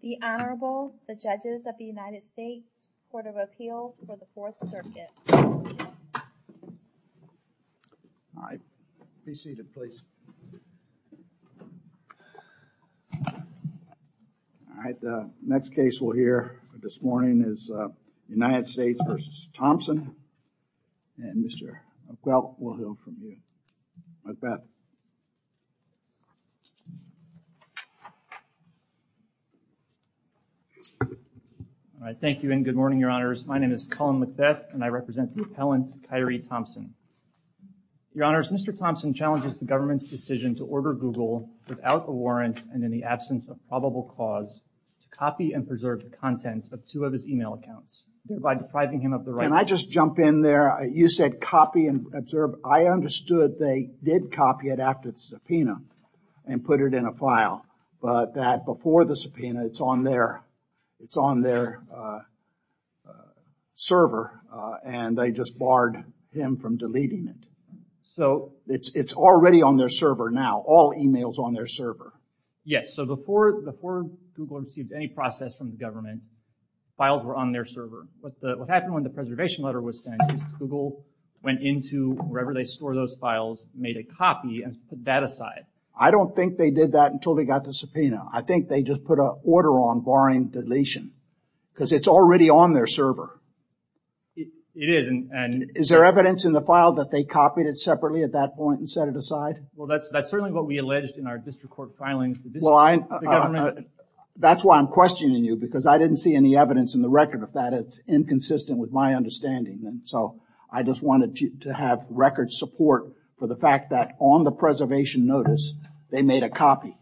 The Honorable, the Judges of the United States, Court of Appeals for the Fourth Circuit. All right. Be seated, please. All right. The next case we'll hear this morning is United States v. Thompson. And Mr. O'Quill, we'll hear from you. McBeth. All right. Thank you and good morning, Your Honors. My name is Colin McBeth and I represent the appellant, Kyrie Thompson. Your Honors, Mr. Thompson challenges the government's decision to order Google without a warrant and in the absence of probable cause to copy and preserve the contents of two of his email accounts by depriving him of the right. Can I just jump in there? You said copy and observe. I understood they did copy it after the subpoena and put it in a file. But that before the subpoena, it's on their it's on their server. And they just barred him from deleting it. So it's already on their server now. All emails on their server. Yes. So before before Google received any process from the government, files were on their server. But what happened when the preservation letter was sent, Google went into wherever they store those files, made a copy and put that aside. I don't think they did that until they got the subpoena. I think they just put a order on barring deletion because it's already on their server. It is. And is there evidence in the file that they copied it separately at that point and set it aside? Well, that's that's certainly what we alleged in our district court filings. That's why I'm questioning you, because I didn't see any evidence in the record of that. It's inconsistent with my understanding. And so I just wanted to have record support for the fact that on the preservation notice, they made a copy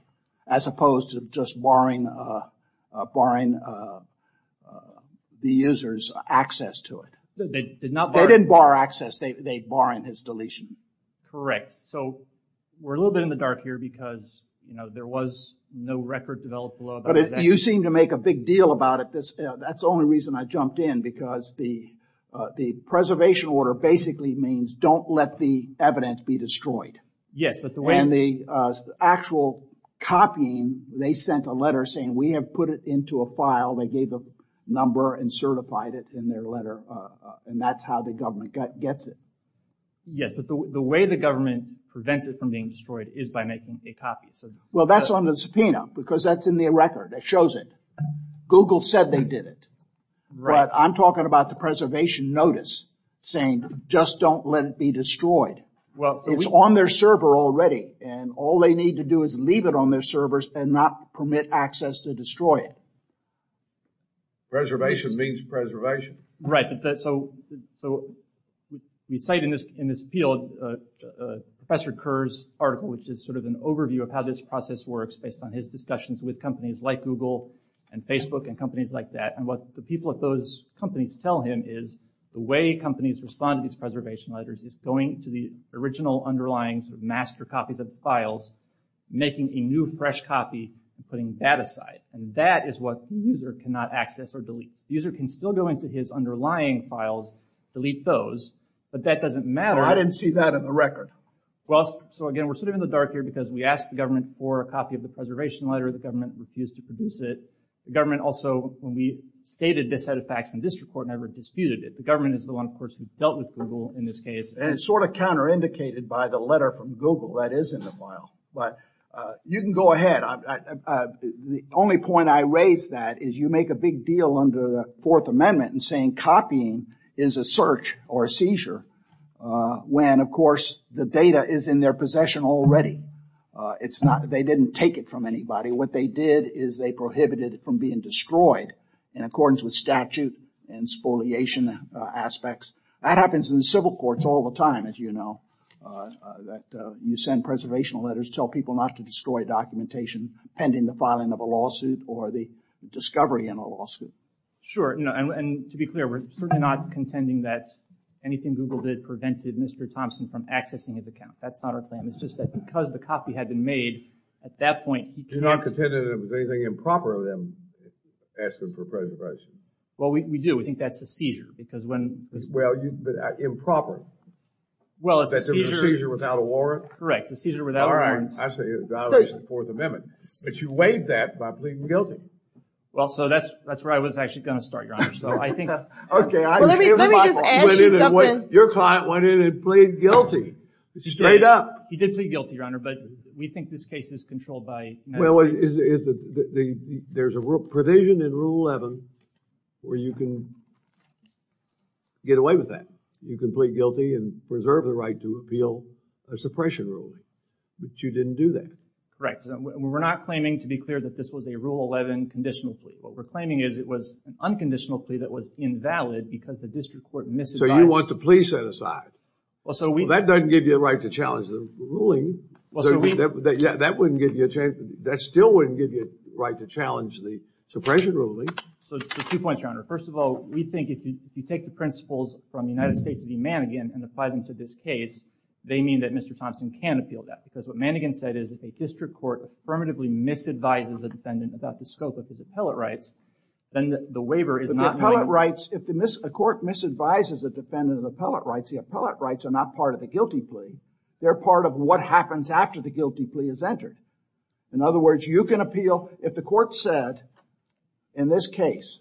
as opposed to just barring barring the users access to it. They didn't bar access. They barring his deletion. Correct. So we're a little bit in the dark here because, you know, there was no record developed. But you seem to make a big deal about it. That's the only reason I jumped in, because the the preservation order basically means don't let the evidence be destroyed. Yes. But when the actual copying, they sent a letter saying we have put it into a file, they gave the number and certified it in their letter. And that's how the government gets it. Yes. But the way the government prevents it from being destroyed is by making a copy. So, well, that's on the subpoena because that's in the record that shows it. Google said they did it. Right. I'm talking about the preservation notice saying just don't let it be destroyed. Well, it's on their server already and all they need to do is leave it on their servers and not permit access to destroy it. Preservation means preservation. Right. So so we cite in this in this field Professor Kerr's article, which is sort of an overview of how this process works based on his discussions with companies like Google and Facebook and companies like that. And what the people at those companies tell him is the way companies respond to these preservation letters is going to the original underlying master copies of files, making a new fresh copy, putting that aside. And that is what the user cannot access or delete. The user can still go into his underlying files, delete those, but that doesn't matter. I didn't see that in the record. Well, so again, we're sort of in the dark here because we asked the government for a copy of the preservation letter. The government refused to produce it. The government also, when we stated this set of facts in district court, never disputed it. The government is the one, of course, who dealt with Google in this case and sort of counter indicated by the letter from Google that is in the file. But you can go ahead. The only point I raise that is you make a big deal under the Fourth Amendment and saying copying is a search or a seizure when, of course, the data is in their possession already. It's not that they didn't take it from anybody. What they did is they prohibited it from being destroyed in accordance with statute and spoliation aspects. That happens in the civil courts all the time, as you know, that you send preservation letters, tell people not to destroy documentation pending the filing of a lawsuit or the discovery in a lawsuit. Sure. And to be clear, we're certainly not contending that anything Google did prevented Mr. Thompson from accessing his account. That's not our claim. It's just that because the copy had been made at that point. You're not contending that it was anything improper of them asking for preservation. Well, we do. We think that's a seizure because when. Well, improper. Well, it's a seizure. That's a seizure without a warrant. Correct. A seizure without a warrant. I say it violates the Fourth Amendment. But you weighed that by pleading guilty. Well, so that's where I was actually going to start, Your Honor. So I think. OK. Let me just ask you something. Your client went in and pleaded guilty. Straight up. He did plead guilty, Your Honor. But we think this case is controlled by. Well, there's a provision in Rule 11 where you can get away with that. You can plead guilty and reserve the right to appeal a suppression ruling. But you didn't do that. Correct. We're not claiming to be clear that this was a Rule 11 conditional plea. What we're claiming is it was an unconditional plea that was invalid because the district court misadvised. So you want the plea set aside. Well, so we. That wouldn't give you a chance. That still wouldn't give you a right to challenge the suppression ruling. So two points, Your Honor. First of all, we think if you take the principles from the United States v. Mannegan and apply them to this case, they mean that Mr. Thompson can appeal that. Because what Mannegan said is if a district court affirmatively misadvises a defendant about the scope of his appellate rights, then the waiver is not. But the appellate rights. If a court misadvises a defendant of appellate rights, the appellate rights are not part of the guilty plea. They're part of what happens after the guilty plea is entered. In other words, you can appeal if the court said, in this case,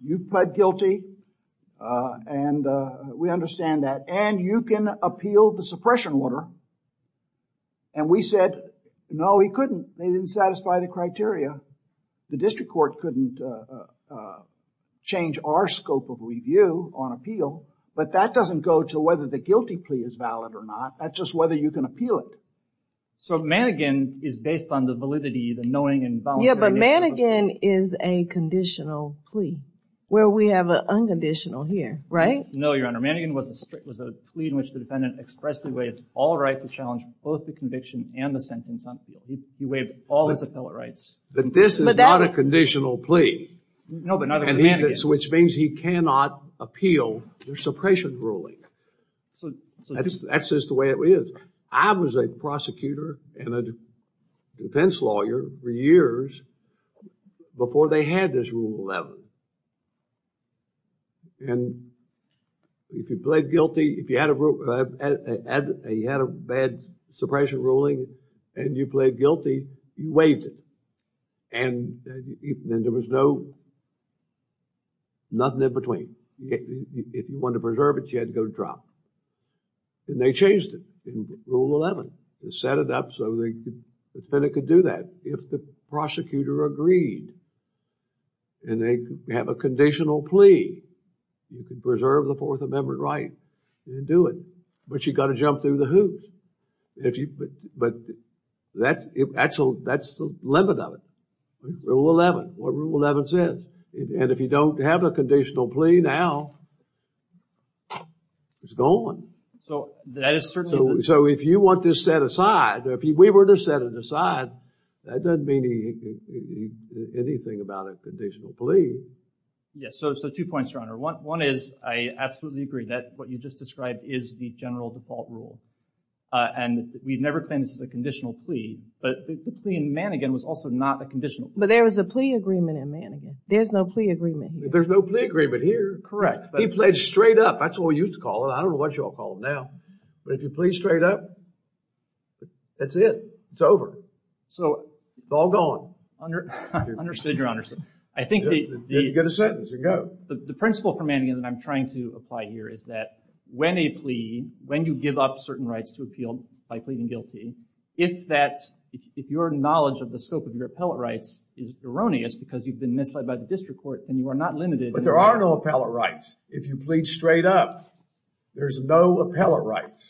you pled guilty. And we understand that. And you can appeal the suppression order. And we said, no, he couldn't. They didn't satisfy the criteria. The district court couldn't change our scope of review on appeal. But that doesn't go to whether the guilty plea is valid or not. That's just whether you can appeal it. So Mannegan is based on the validity, the knowing and volunteering. Yeah, but Mannegan is a conditional plea where we have an unconditional here, right? No, Your Honor. Mannegan was a plea in which the defendant expressly waived all rights to challenge both the conviction and the sentence on appeal. He waived all his appellate rights. But this is not a conditional plea. No, but not under Mannegan. Which means he cannot appeal the suppression ruling. That's just the way it is. I was a prosecutor and a defense lawyer for years before they had this Rule 11. And if you pled guilty, if you had a bad suppression ruling and you pled guilty, you waived it. And there was no, nothing in between. If you wanted to preserve it, you had to go to trial. And they changed it in Rule 11. They set it up so the defendant could do that. If the prosecutor agreed and they have a conditional plea, you can preserve the Fourth Amendment right and do it. But you've got to jump through the hoops. But that's the limit of it. Rule 11, what Rule 11 says. And if you don't have a conditional plea now, it's gone. So if you want this set aside, if we were to set it aside, that doesn't mean anything about a conditional plea. Yes, so two points, Your Honor. One is I absolutely agree that what you just described is the general default rule. And we've never claimed this is a conditional plea. But the plea in Manningham was also not a conditional plea. But there was a plea agreement in Manningham. There's no plea agreement here. There's no plea agreement here. He pled straight up. That's what we used to call it. I don't know what you all call it now. But if you plead straight up, that's it. It's over. So it's all gone. Understood, Your Honor. Get a sentence and go. The principle for Manningham that I'm trying to apply here is that when a plea, when you give up certain rights to appeal by pleading guilty, if your knowledge of the scope of your appellate rights is erroneous because you've been misled by the district court and you are not limited. But there are no appellate rights. If you plead straight up, there's no appellate rights.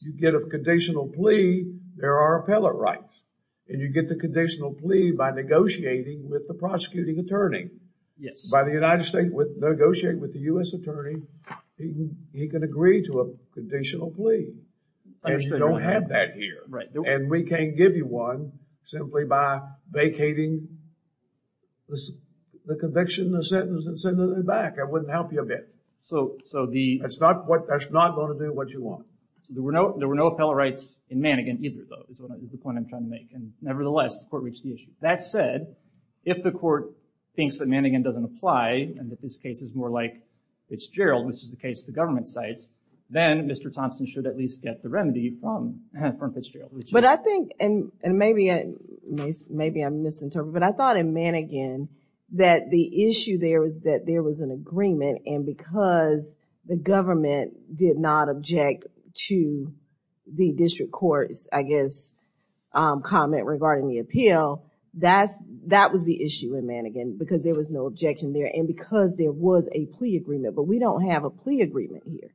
You get a conditional plea, there are appellate rights. And you get the conditional plea by negotiating with the prosecuting attorney. Yes. By the United States negotiating with the U.S. attorney, he can agree to a conditional plea. You don't have that here. And we can't give you one simply by vacating the conviction, the sentence, and sending it back. That wouldn't help you a bit. So the… That's not going to do what you want. There were no appellate rights in Manningham either, though, is the point I'm trying to make. And nevertheless, the court reached the issue. That said, if the court thinks that Manningham doesn't apply and that this case is more like Fitzgerald, which is the case the government cites, then Mr. Thompson should at least get the remedy from Fitzgerald. But I think, and maybe I'm misinterpreting, but I thought in Manningham that the issue there was that there was an agreement and because the government did not object to the district court's, I guess, comment regarding the appeal, that was the issue in Manningham because there was no objection there and because there was a plea agreement. But we don't have a plea agreement here.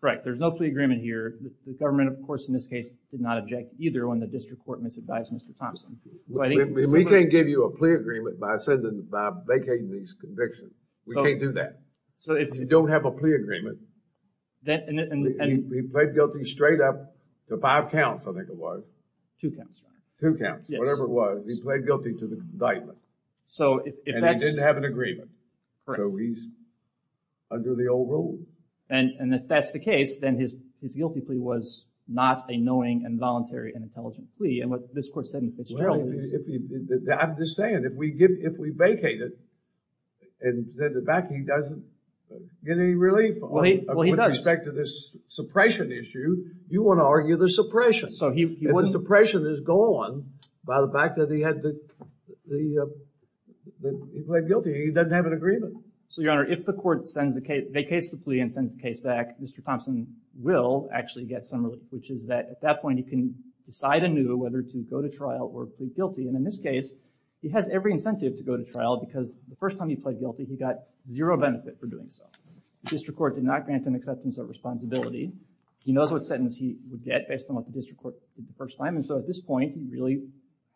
Correct. There's no plea agreement here. The government, of course, in this case, did not object either when the district court misadvised Mr. Thompson. We can't give you a plea agreement by vacating these convictions. We can't do that. So if you don't have a plea agreement… He pled guilty straight up to five counts, I think it was. Two counts. Two counts, whatever it was. He pled guilty to the indictment. So if that's… And he didn't have an agreement. Correct. So he's under the old rule. And if that's the case, then his guilty plea was not a knowing and voluntary and intelligent plea. And what this court said in Fitzgerald is… I'm just saying, if we vacate it, then the vacancy doesn't get any relief with respect to this suppression issue. You want to argue the suppression. If the suppression is gone by the fact that he pled guilty, he doesn't have an agreement. So, Your Honor, if the court vacates the plea and sends the case back, Mr. Thompson will actually get some relief, which is that at that point he can decide anew whether to go to trial or plead guilty. And in this case, he has every incentive to go to trial because the first time he pled guilty, he got zero benefit for doing so. The district court did not grant him acceptance of responsibility. He knows what sentence he would get based on what the district court did the first time. And so at this point, he really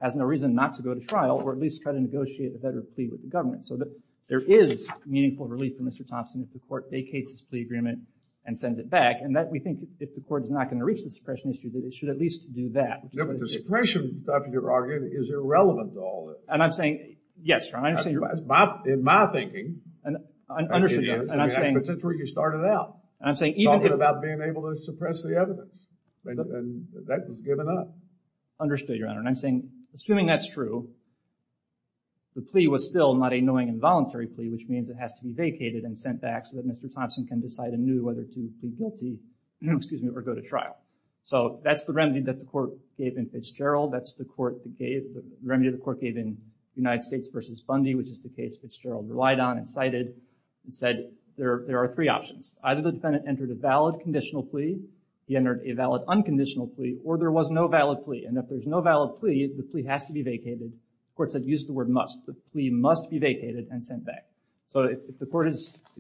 has no reason not to go to trial or at least try to negotiate a better plea with the government. So there is meaningful relief for Mr. Thompson if the court vacates his plea agreement and sends it back. And we think if the court is not going to reach the suppression issue, that it should at least do that. But the suppression, Dr. DeRogan, is irrelevant to all this. And I'm saying… Yes, Your Honor. In my thinking… Understood, Your Honor. And I'm saying… But that's where you started out. And I'm saying… Talking about being able to suppress the evidence. And that was given up. Understood, Your Honor. And I'm saying, assuming that's true, the plea was still not a knowing and voluntary plea, which means it has to be vacated and sent back so that Mr. Thompson can decide anew whether to plead guilty or go to trial. So that's the remedy that the court gave in Fitzgerald. That's the remedy the court gave in United States v. Fundy, which is the case Fitzgerald relied on and cited and said, there are three options. Either the defendant entered a valid conditional plea, he entered a valid unconditional plea, or there was no valid plea. And if there's no valid plea, the plea has to be vacated. The court said use the word must. The plea must be vacated and sent back. So if the court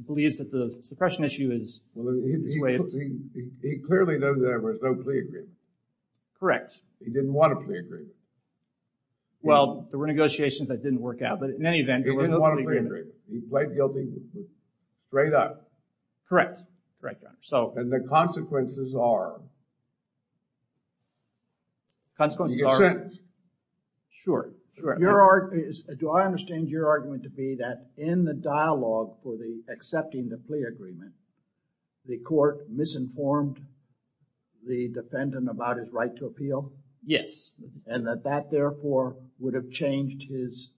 believes that the suppression issue is… Well, he clearly knows there was no plea agreement. Correct. He didn't want a plea agreement. Well, there were negotiations that didn't work out. But in any event, there was no plea agreement. He didn't want a plea agreement. He pled guilty straight up. Correct. Straight up. And the consequences are? Consequences are? Sure. Do I understand your argument to be that in the dialogue for the accepting the plea agreement, the court misinformed the defendant about his right to appeal? Yes. And that that, therefore, would have changed his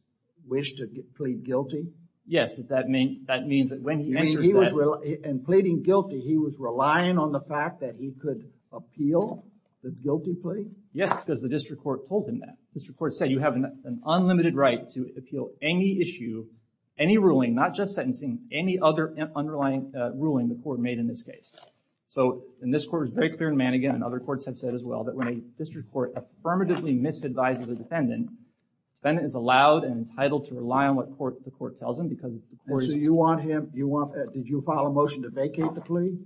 wish to plead guilty? Yes. That means that when he answered that… And pleading guilty, he was relying on the fact that he could appeal the guilty plea? Yes, because the district court told him that. The district court said you have an unlimited right to appeal any issue, any ruling, not just sentencing, any other underlying ruling the court made in this case. So, and this court was very clear in Mannigan and other courts have said as well, that when a district court affirmatively misadvises a defendant, the defendant is allowed and entitled to rely on what the court tells him because the court is… So, you want him… Did you file a motion to vacate the plea?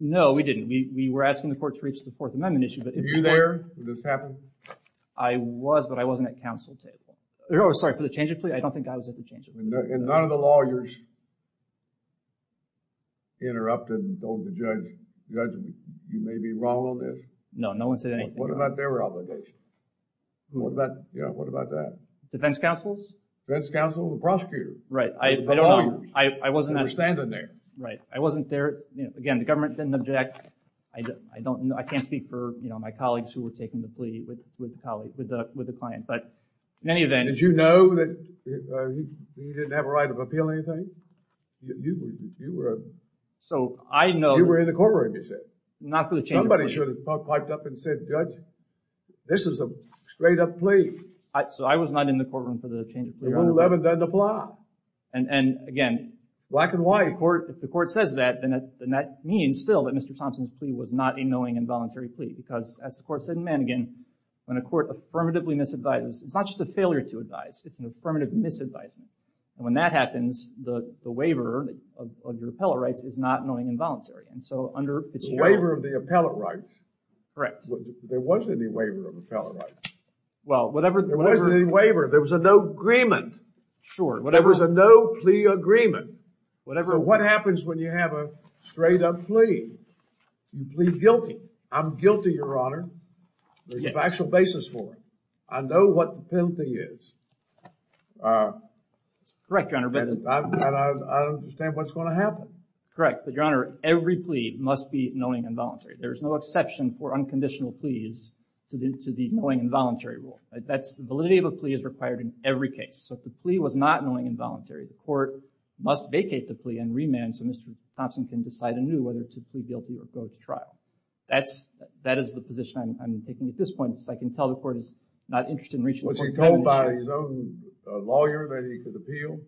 No, we didn't. We were asking the court to reach the Fourth Amendment issue. Were you there when this happened? I was, but I wasn't at counsel table. Oh, sorry, for the change of plea? I don't think I was at the change of plea. And none of the lawyers interrupted and told the judge, judge, you may be wrong on this? No, no one said anything. What about their obligation? What about, yeah, what about that? Defense counsels? Defense counsel, the prosecutor. Right, I don't know. I wasn't there. They were standing there. Right, I wasn't there. Again, the government didn't object. I don't know, I can't speak for, you know, my colleagues who were taking the plea with the client. But in any event… Did you know that he didn't have a right to appeal anything? You were… So, I know… You were in the courtroom, you said? Not for the change of plea. Somebody should have piped up and said, judge, this is a straight-up plea. So, I was not in the courtroom for the change of plea. The rule 11 doesn't apply. And, again… Black and white. If the court says that, then that means, still, that Mr. Thompson's plea was not a knowing and voluntary plea because, as the court said in Mannegan, when a court affirmatively misadvises, it's not just a failure to advise, it's an affirmative misadvisement. And when that happens, the waiver of your appellate rights is not knowing and voluntary. And so, under… The waiver of the appellate rights. Correct. There wasn't any waiver of appellate rights. Well, whatever… There wasn't any waiver. There was a no agreement. Sure. There was a no plea agreement. Whatever. What happens when you have a straight-up plea? You plead guilty. I'm guilty, Your Honor. There's a factual basis for it. I know what the penalty is. Correct, Your Honor. And I understand what's going to happen. Correct. But, Your Honor, every plea must be knowing and voluntary. There's no exception for unconditional pleas to the knowing and voluntary rule. The validity of a plea is required in every case. So, if the plea was not knowing and voluntary, the court must vacate the plea and remand so Mr. Thompson can decide anew whether to plead guilty or go to trial. That is the position I'm taking at this point. I can tell the court is not interested in reaching… Was he told by his own lawyer that he could appeal?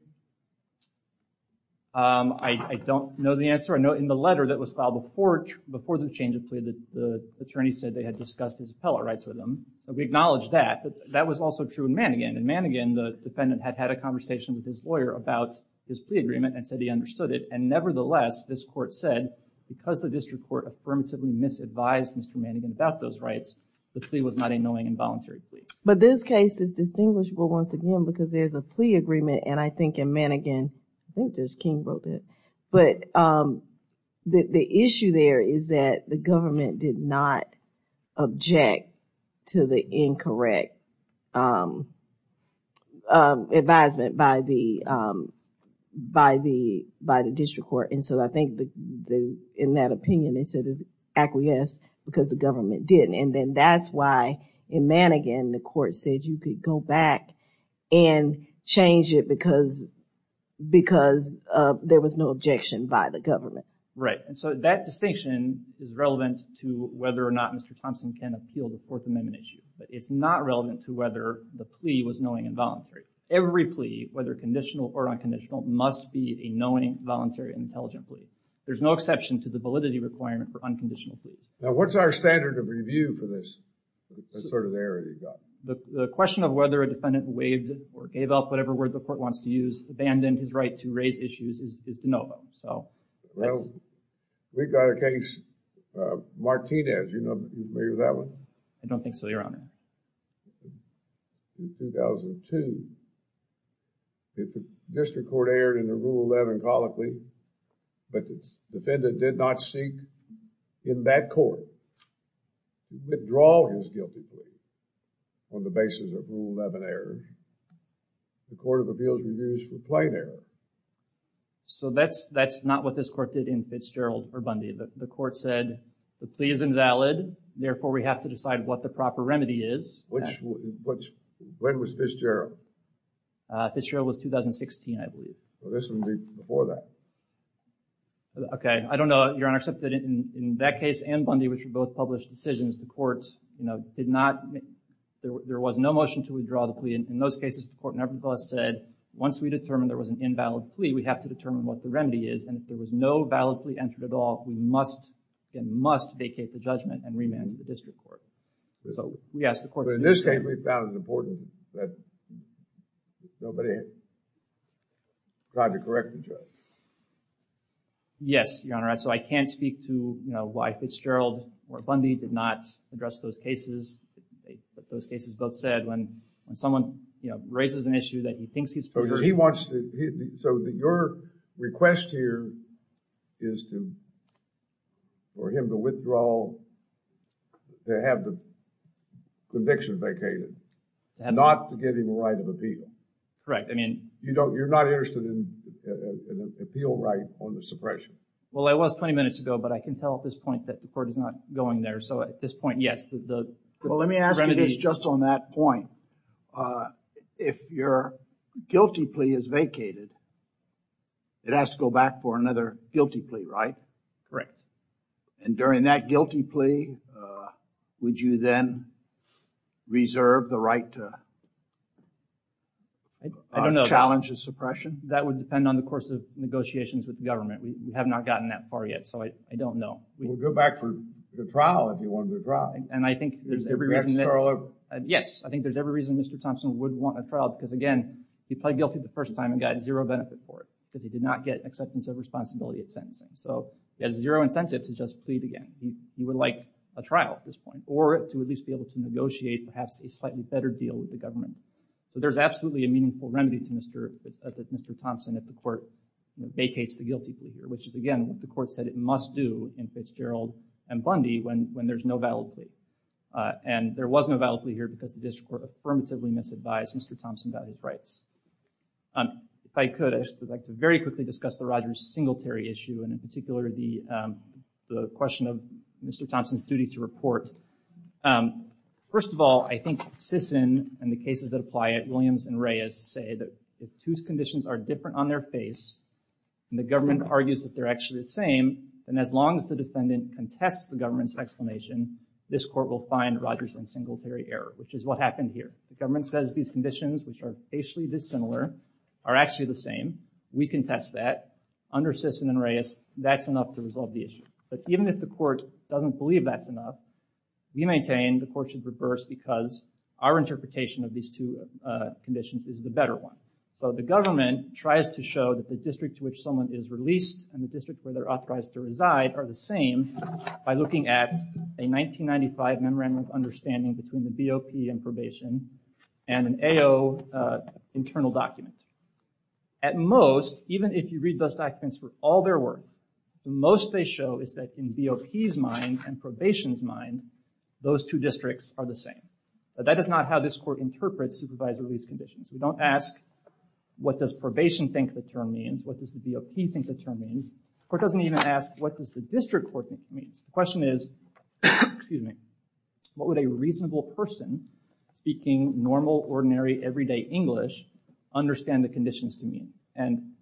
I don't know the answer. In the letter that was filed before the change of plea, the attorney said they had discussed his appellate rights with him. We acknowledge that. That was also true in Manegan. In Manegan, the defendant had had a conversation with his lawyer about his plea agreement and said he understood it. And, nevertheless, this court said, because the district court affirmatively misadvised Mr. Manegan about those rights, the plea was not a knowing and voluntary plea. But this case is distinguishable, once again, because there's a plea agreement and I think in Manegan, I think there's King voted, but the issue there is that the government did not object to the incorrect advisement by the district court. And so I think, in that opinion, they said it's acquiesced because the government didn't. And then that's why, in Manegan, the court said you could go back and change it because there was no objection by the government. Right. And so that distinction is relevant to whether or not Mr. Thompson can appeal the Fourth Amendment issue. But it's not relevant to whether the plea was knowing and voluntary. Every plea, whether conditional or unconditional, must be a knowing, voluntary, and intelligent plea. There's no exception to the validity requirement for unconditional pleas. Now, what's our standard of review for this? What sort of error have you got? The question of whether a defendant waived or gave up whatever word the court wants to use, abandoned his right to raise issues, is de novo. Well, we've got a case, Martinez, you know, maybe that one? I don't think so, Your Honor. In 2002, if the district court erred in a Rule 11 colloquy, but the defendant did not seek, in that court, withdraw his guilty plea on the basis of Rule 11 error, the Court of Appeals reviews for plain error. So that's not what this court did in Fitzgerald or Bundy. The court said the plea is invalid, therefore we have to decide what the proper remedy is. When was Fitzgerald? Fitzgerald was 2016, I believe. So this would be before that. Okay, I don't know, Your Honor, except that in that case and Bundy, which were both published decisions, the court, you know, did not, there was no motion to withdraw the plea. In those cases, the court nevertheless said, once we determine there was an invalid plea, we have to determine what the remedy is. And if there was no valid plea entered at all, we must, again, must vacate the judgment and remand the district court. But in this case, we found it important that nobody tried to correct the judge. Yes, Your Honor. So I can't speak to, you know, why Fitzgerald or Bundy did not address those cases. But those cases both said, when someone, you know, raises an issue that he thinks he's proven. So your request here is for him to withdraw, to have the conviction vacated, not to give him a right of appeal. Correct, I mean... You don't, you're not interested in an appeal right on the suppression. Well, it was 20 minutes ago, but I can tell at this point that the court is not going there. So at this point, yes, the remedy... Well, let me ask you this just on that point. If your guilty plea is vacated, it has to go back for another guilty plea, right? Correct. And during that guilty plea, would you then reserve the right to... I don't know. ...challenge a suppression? That would depend on the course of negotiations with the government. We have not gotten that far yet, so I don't know. We'll go back for the trial, if you want the trial. And I think there's every reason that... Yes, I think there's every reason Mr. Thompson would want a trial, because again, he pled guilty the first time and got zero benefit for it, because he did not get acceptance of responsibility at sentencing. So he has zero incentive to just plead again. He would like a trial at this point, or to at least be able to negotiate perhaps a slightly better deal with the government. So there's absolutely a meaningful remedy to Mr. Thompson if the court vacates the guilty plea here, which is, again, what the court said it must do in Fitzgerald and Bundy when there's no valid plea. And there was no valid plea here because the district court affirmatively misadvised Mr. Thompson about his rights. If I could, I'd like to very quickly discuss the Rogers-Singletary issue, and in particular the question of Mr. Thompson's duty to report. First of all, I think Sisson and the cases that apply it, Williams and Reyes, say that if two conditions are different on their face and the government argues that they're actually the same, then as long as the defendant contests the government's explanation, this court will find Rogers-Singletary error, which is what happened here. The government says these conditions, which are facially dissimilar, are actually the same. We contest that. Under Sisson and Reyes, that's enough to resolve the issue. But even if the court doesn't believe that's enough, we maintain the court should reverse because our interpretation of these two conditions is the better one. So the government tries to show that the district to which someone is released and the district where they're authorized to reside are the same by looking at a 1995 Memorandum of Understanding between the BOP and probation and an AO internal document. At most, even if you read those documents for all their worth, the most they show is that in BOP's mind and probation's mind, those two districts are the same. But that is not how this court interprets supervised release conditions. We don't ask, what does probation think the term means? What does the BOP think the term means? The court doesn't even ask, what does the district court think it means? The question is, what would a reasonable person speaking normal, ordinary, everyday English understand the conditions to mean? And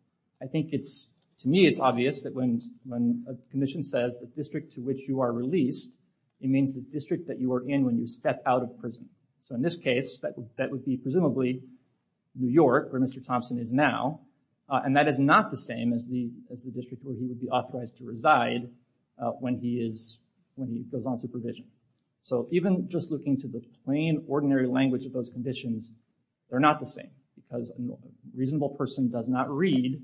I think to me it's obvious that when a condition says the district to which you are released, it means the district that you are in when you step out of prison. So in this case, that would be presumably New York where Mr. Thompson is now. And that is not the same as the district where he would be authorized to reside when he goes on supervision. So even just looking to the plain, ordinary language of those conditions, they're not the same. Because a reasonable person does not read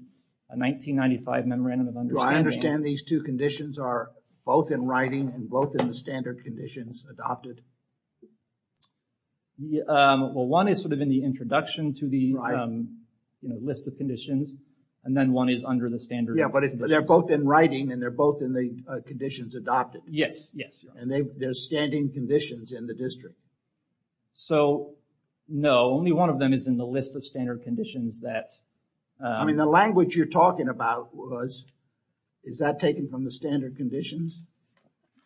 a 1995 Memorandum of Understanding. Well, I understand these two conditions are both in writing and both in the standard conditions adopted. Well, one is sort of in the introduction to the list of conditions. And then one is under the standard. Yeah, but they're both in writing and they're both in the conditions adopted. Yes, yes. And they're standing conditions in the district. So, no, only one of them is in the list of standard conditions that... I mean, the language you're talking about was, is that taken from the standard conditions?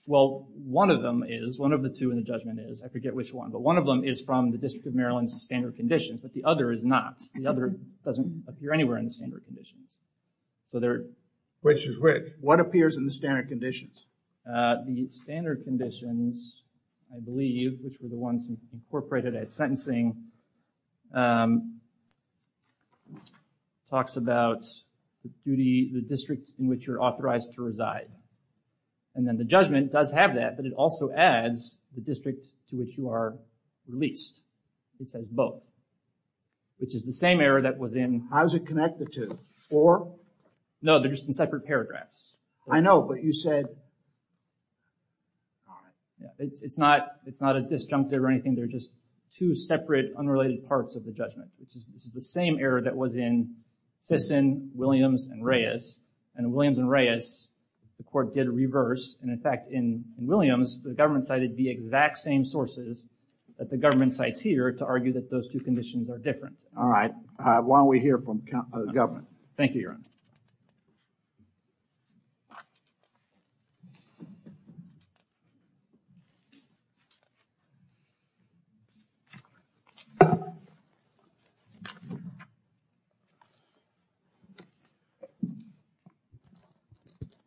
Well, one of them is. One of the two in the judgment is. I forget which one. But one of them is from the District of Maryland's standard conditions. But the other is not. The other doesn't appear anywhere in the standard conditions. So they're... Which is which? What appears in the standard conditions? The standard conditions, I believe, which were the ones incorporated at sentencing, talks about the duty, the district in which you're authorized to reside. And then the judgment does have that, but it also adds the district to which you are released. It says both, which is the same error that was in... How is it connected to? Or? No, they're just in separate paragraphs. I know, but you said... It's not a disjunctive or anything. They're just two separate, unrelated parts of the judgment. This is the same error that was in Sisson, Williams, and Reyes. And in Williams and Reyes, the court did reverse. And in fact, in Williams, the government cited the exact same sources that the government cites here to argue that those two conditions are different. All right. Why don't we hear from the government? Thank you, Your Honor.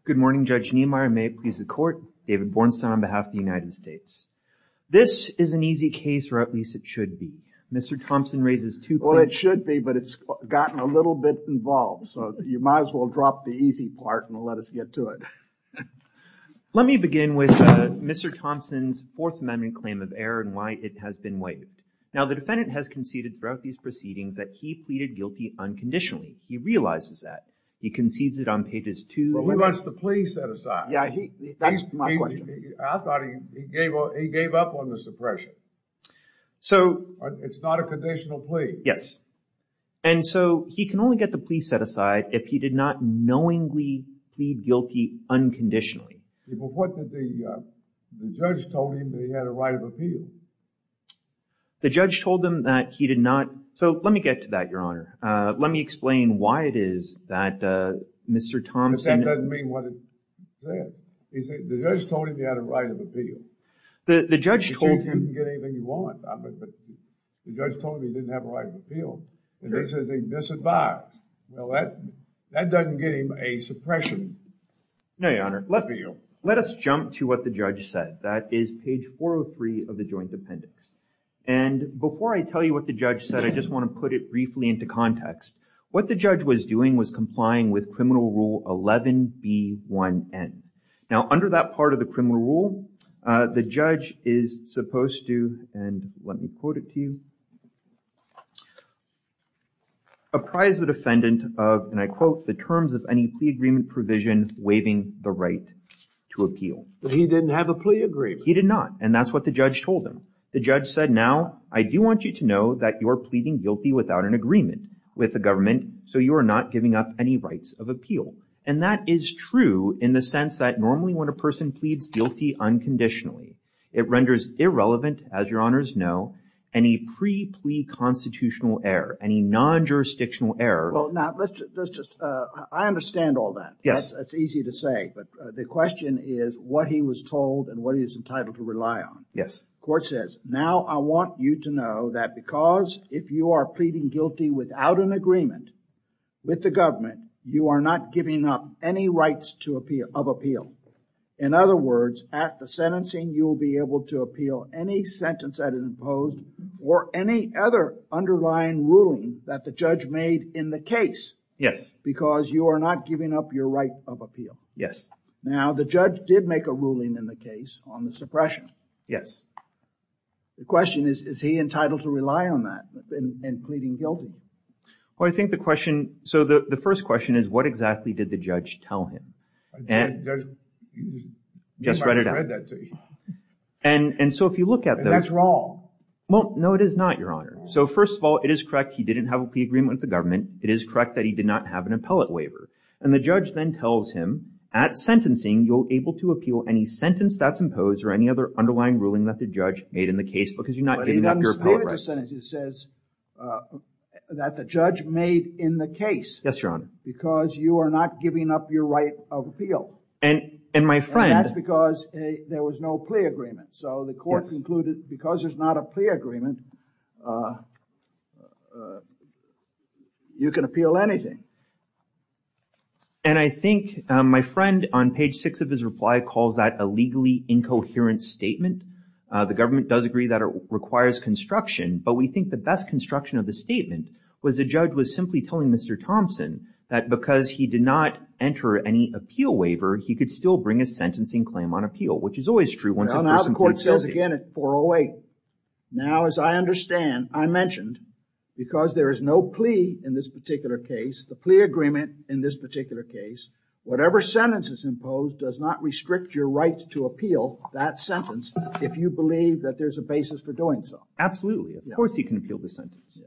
Good morning, Judge Niemeyer. May it please the court. David Bornstein on behalf of the United States. This is an easy case, or at least it should be. Mr. Thompson raises two points. Well, it should be, but it's gotten a little bit involved, so you might as well drop the easy part and let us get to it. Let me begin by saying Mr. Thompson's Fourth Amendment claim of error and why it has been waived. Now, the defendant has conceded throughout these proceedings that he pleaded guilty unconditionally. He realizes that. He concedes it on pages two. Well, he wants the plea set aside. Yeah, that's my question. I thought he gave up on the suppression. So... It's not a conditional plea. Yes. And so he can only get the plea set aside if he did not knowingly plead guilty unconditionally. Well, what did the judge told him that he had a right of appeal? The judge told him that he did not... So, let me get to that, Your Honor. Let me explain why it is that Mr. Thompson... That doesn't mean what it says. The judge told him he had a right of appeal. The judge told him... You can get anything you want, but the judge told him he didn't have a right of appeal. And they said they'd disadvise. Now, that doesn't get him a suppression plea. No, Your Honor. Let us jump to what the judge said. That is page 403 of the joint appendix. And before I tell you what the judge said, I just want to put it briefly into context. What the judge was doing was complying with criminal rule 11B1N. Now, under that part of the criminal rule, the judge is supposed to, and let me quote it to you, apprise the defendant of, and I quote, the terms of any plea agreement provision waiving the right to appeal. But he didn't have a plea agreement. He did not, and that's what the judge told him. The judge said, now, I do want you to know that you're pleading guilty without an agreement with the government, so you are not giving up any rights of appeal. And that is true in the sense that normally when a person pleads guilty unconditionally, it renders irrelevant, as Your Honors know, any pre-plea constitutional error, any non-jurisdictional error. Well, now, let's just, I understand all that. That's easy to say, but the question is what he was told and what he was entitled to rely on. Yes. The court says, now, I want you to know that because if you are pleading guilty without an agreement with the government, you are not giving up any rights of appeal. In other words, at the sentencing, you will be able to appeal any sentence that is imposed or any other underlying ruling that the judge made in the case. Because you are not giving up your right of appeal. Yes. Now, the judge did make a ruling in the case on the suppression. Yes. The question is, is he entitled to rely on that in pleading guilty? Well, I think the question, so the first question is what exactly did the judge tell him? Just read it out. And so if you look at those... That's wrong. No, it is not, Your Honor. So first of all, it is correct he didn't have a plea agreement with the government. It is correct that he did not have an appellate waiver. And the judge then tells him, at sentencing, you're able to appeal any sentence that's imposed or any other underlying ruling that the judge made in the case because you're not giving up your appellate rights. But he doesn't say it. He says that the judge made in the case. Yes, Your Honor. Because you are not giving up your right of appeal. And my friend... And that's because there was no plea agreement. So the court concluded because there's not a plea agreement, you can appeal anything. And I think my friend, on page 6 of his reply, calls that a legally incoherent statement. The government does agree that it requires construction. But we think the best construction of the statement was the judge was simply telling Mr. Thompson that because he did not enter any appeal waiver, he could still bring a sentencing claim on appeal, which is always true once a person pleads guilty. Well, now the court says again at 408, now as I understand, I mentioned, because there is no plea in this particular case, the plea agreement in this particular case, whatever sentence is imposed does not restrict your right to appeal that sentence if you believe that there's a basis for doing so. Absolutely. Of course you can appeal the sentence.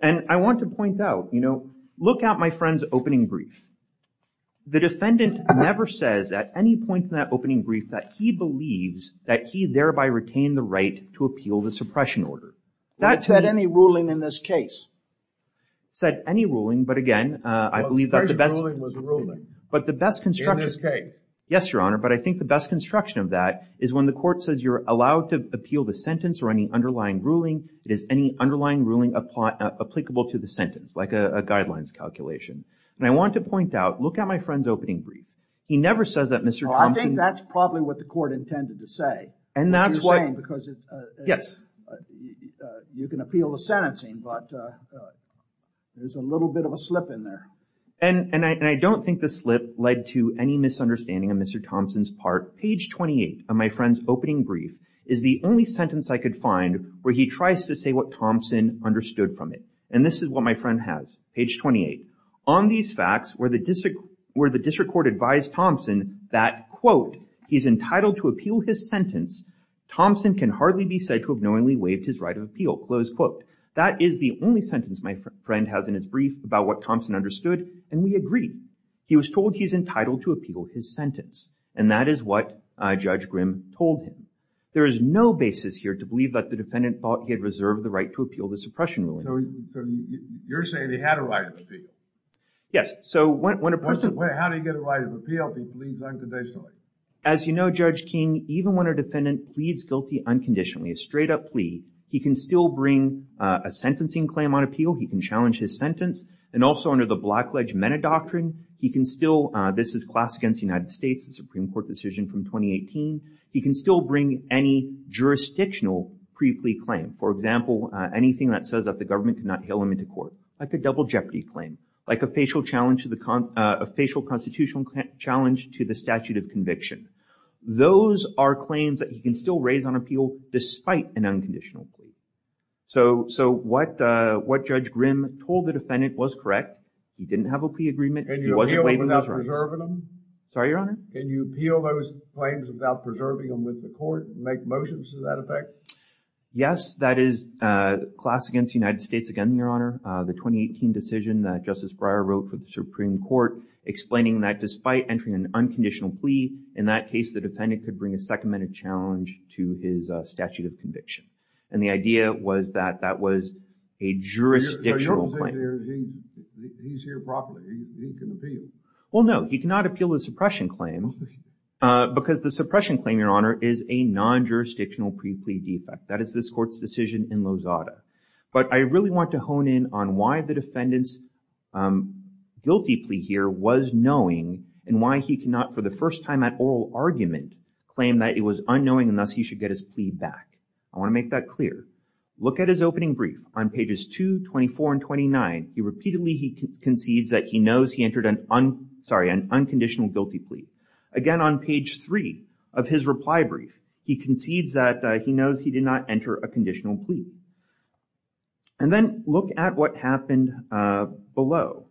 And I want to point out, you know, look at my friend's opening brief. The defendant never says at any point in that opening brief that he believes that he thereby retained the right to appeal the suppression order. It said any ruling in this case. Said any ruling, but again, I believe that the best... Suppression ruling was a ruling. But the best construction... In this case. Yes, Your Honor, but I think the best construction of that is when the court says you're allowed to appeal the sentence or any underlying ruling, it is any underlying ruling applicable to the sentence, like a guidelines calculation. And I want to point out, look at my friend's opening brief. He never says that Mr. Thompson... Well, I think that's probably what the court intended to say. And that's why... What you're saying, because it's... Yes. You can appeal the sentencing, but there's a little bit of a slip in there. And I don't think the slip led to any misunderstanding of Mr. Thompson's part. Page 28 of my friend's opening brief is the only sentence I could find where he tries to say what Thompson understood from it. And this is what my friend has. Page 28. On these facts, where the district court advised Thompson that, quote, he's entitled to appeal his sentence, Thompson can hardly be said to have knowingly waived his right of appeal, close quote. That is the only sentence my friend has in his brief about what Thompson understood, and we agree. He was told he's entitled to appeal his sentence. And that is what Judge Grimm told him. There is no basis here to believe that the defendant thought he had reserved the right to appeal the suppression ruling. So you're saying he had a right of appeal? Yes. So when a person... Wait, how do you get a right of appeal if he pleads unconditionally? As you know, Judge King, even when a defendant pleads guilty unconditionally, a straight-up plea, he can still bring a sentencing claim on appeal. He can challenge his sentence. And also under the Black Ledge Mena Doctrine, he can still... This is class against the United States, the Supreme Court decision from 2018. He can still bring any jurisdictional pre-plea claim. For example, anything that says that the government cannot hail him into court, like a double jeopardy claim, like a facial constitutional challenge to the statute of conviction. Those are claims that he can still raise on appeal despite an unconditional plea. So what Judge Grimm told the defendant was correct. He didn't have a plea agreement. He wasn't waiving those rights. Can you appeal without preserving them? Sorry, Your Honor? Can you appeal those claims without preserving them with the court and make motions to that effect? Yes, that is class against the United States again, Your Honor. The 2018 decision that Justice Breyer wrote for the Supreme Court explaining that despite entering an unconditional plea, in that case, the defendant could bring a second-minute challenge to his statute of conviction. And the idea was that that was a jurisdictional claim. He's here properly. He can appeal. Well, no. He cannot appeal the suppression claim because the suppression claim, Your Honor, is a non-jurisdictional pre-plea defect. That is this court's decision in Lozada. But I really want to hone in on why the defendant's guilty plea here was knowing and why he cannot, for the first time at oral argument, claim that it was unknowing and thus he should get his plea back. I want to make that clear. Look at his opening brief on pages 2, 24, and 29. He repeatedly concedes that he knows he entered an unconditional guilty plea. Again, on page 3 of his reply brief, he concedes that he knows he did not enter a conditional plea. And then look at what happened below.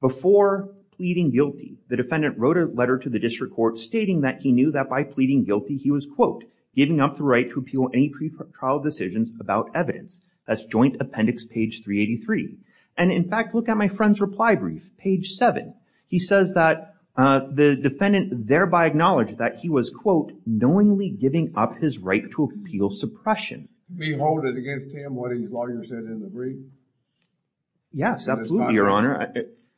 Before pleading guilty, the defendant wrote a letter to the district court stating that he knew that by pleading guilty he was, quote, giving up the right to appeal any pre-trial decisions about evidence. That's Joint Appendix, page 383. And in fact, look at my friend's reply brief, page 7. He says that the defendant thereby acknowledged that he was, quote, knowingly giving up his right to appeal suppression. Behold it against him what his lawyer said in the brief? Yes, absolutely, Your Honor.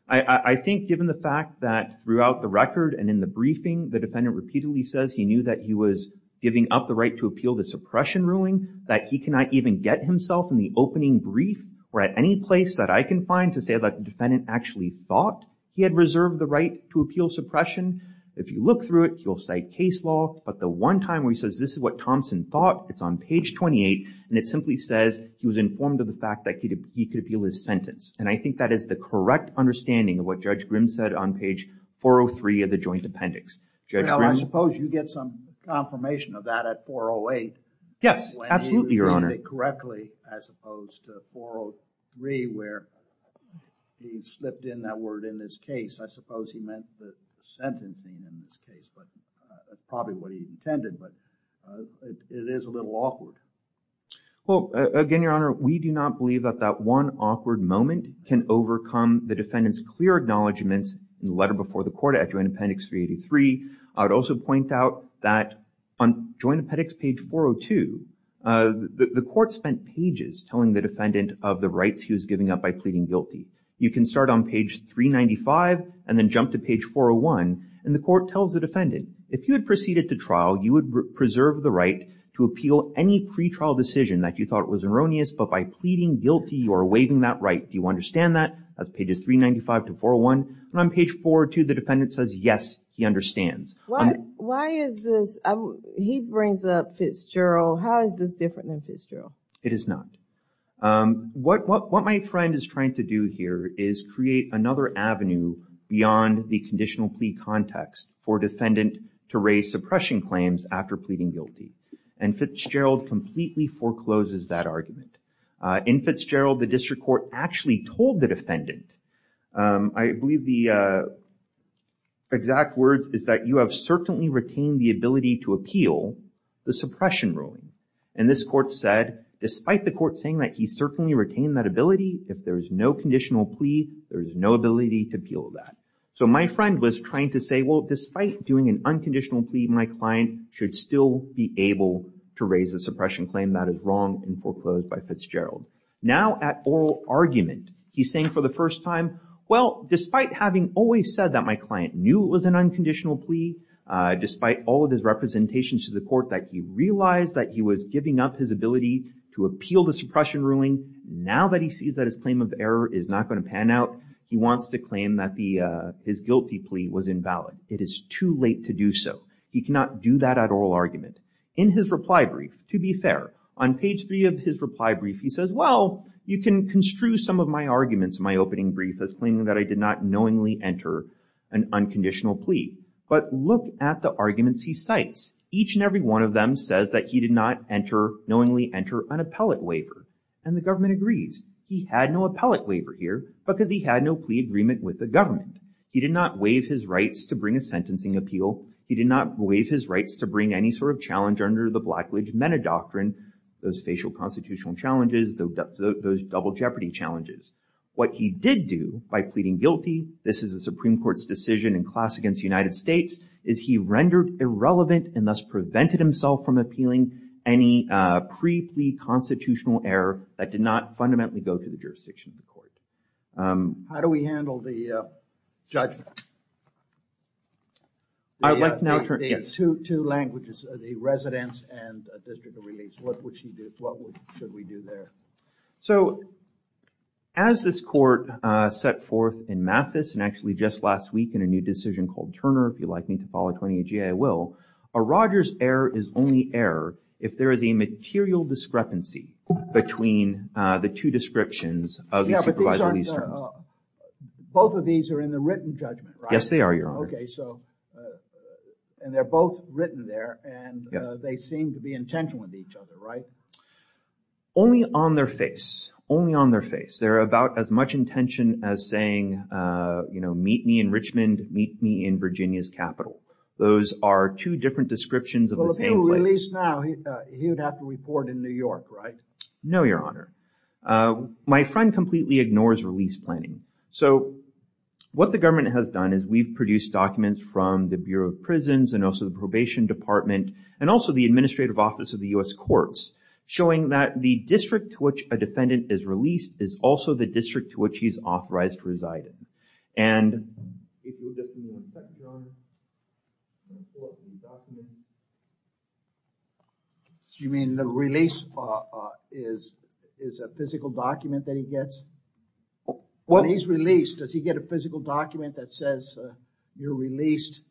I think given the fact that throughout the record and in the briefing, the defendant repeatedly says he knew that he was giving up the right to appeal the suppression ruling, that he cannot even get himself in the opening brief or at any place that I can find to say that the defendant actually thought he had reserved the right to appeal suppression. If you look through it, you'll cite case law. But the one time where he says this is what Thompson thought, it's on page 28. And it simply says he was informed of the fact that he could appeal his sentence. And I think that is the correct understanding of what Judge Grimm said on page 403 of the Joint Appendix. Well, I suppose you get some confirmation of that at 408. Yes, absolutely, Your Honor. When he read it correctly, as opposed to 403, where he slipped in that word in this case. I suppose he meant the sentencing in this case. But that's probably what he intended. But it is a little awkward. Well, again, Your Honor, we do not believe that that one awkward moment can overcome the defendant's clear acknowledgments in the letter before the court at Joint Appendix 383. I would also point out that on Joint Appendix page 402, the court spent pages telling the defendant of the rights he was giving up by pleading guilty. You can start on page 395 and then jump to page 401. And the court tells the defendant, if you had proceeded to trial, you would preserve the right to appeal any pretrial decision that you thought was erroneous, but by pleading guilty, you are waiving that right. Do you understand that? That's pages 395 to 401. And on page 402, the defendant says, yes, he understands. Why is this? He brings up Fitzgerald. How is this different than Fitzgerald? It is not. What my friend is trying to do here is create another avenue beyond the conditional plea context for defendant to raise suppression claims after pleading guilty. And Fitzgerald completely forecloses that argument. In Fitzgerald, the district court actually told the defendant, I believe the exact words is that, you have certainly retained the ability to appeal the suppression ruling. And this court said, despite the court saying that he certainly retained that ability, if there is no conditional plea, there is no ability to appeal that. So my friend was trying to say, well, despite doing an unconditional plea, my client should still be able to raise a suppression claim. That is wrong and foreclosed by Fitzgerald. Now at oral argument, he's saying for the first time, well, despite having always said that my client knew it was an unconditional plea, despite all of his representations to the court that he realized that he was giving up his ability to appeal the suppression ruling, now that he sees that his claim of error is not going to pan out, he wants to claim that his guilty plea was invalid. It is too late to do so. He cannot do that at oral argument. In his reply brief, to be fair, on page three of his reply brief, he says, well, you can construe some of my arguments in my opening brief as claiming that I did not knowingly enter an unconditional plea. But look at the arguments he cites. Each and every one of them says that he did not enter, knowingly enter an appellate waiver. And the government agrees. He had no appellate waiver here because he had no plea agreement with the government. He did not waive his rights to bring a sentencing appeal. He did not waive his rights to bring any sort of challenge under the Blacklege metadoctrine, those facial constitutional challenges, those double jeopardy challenges. What he did do by pleading guilty, this is a Supreme Court's decision in class against the United States, is he rendered irrelevant and thus prevented himself from appealing any pre-plea constitutional error that did not fundamentally go to the jurisdiction of the court. How do we handle the judgment? I would like to now turn... The two languages, the residence and district of release. What should we do there? So, as this court set forth in Mathis and actually just last week in a new decision called Turner, if you'd like me to follow Tony at GA, I will, a Rogers error is only error if there is a material discrepancy between the two descriptions of the supervisor release terms. Yeah, but these aren't... Both of these are in the written judgment, right? Yes, they are, Your Honor. Okay, so... And they're both written there and they seem to be intentional with each other, right? Only on their face. Only on their face. There are about as much intention as saying, you know, meet me in Richmond, meet me in Virginia's capital. Those are two different descriptions of the same place. If he's released now, he would have to report in New York, right? No, Your Honor. My friend completely ignores release planning. So, what the government has done is we've produced documents from the Bureau of Prisons and also the Probation Department and also the Administrative Office of the U.S. Courts showing that the district to which a defendant is released is also the district to which he's authorized to reside in. And... Your Honor... You mean the release is a physical document that he gets? When he's released, does he get a physical document that says you're released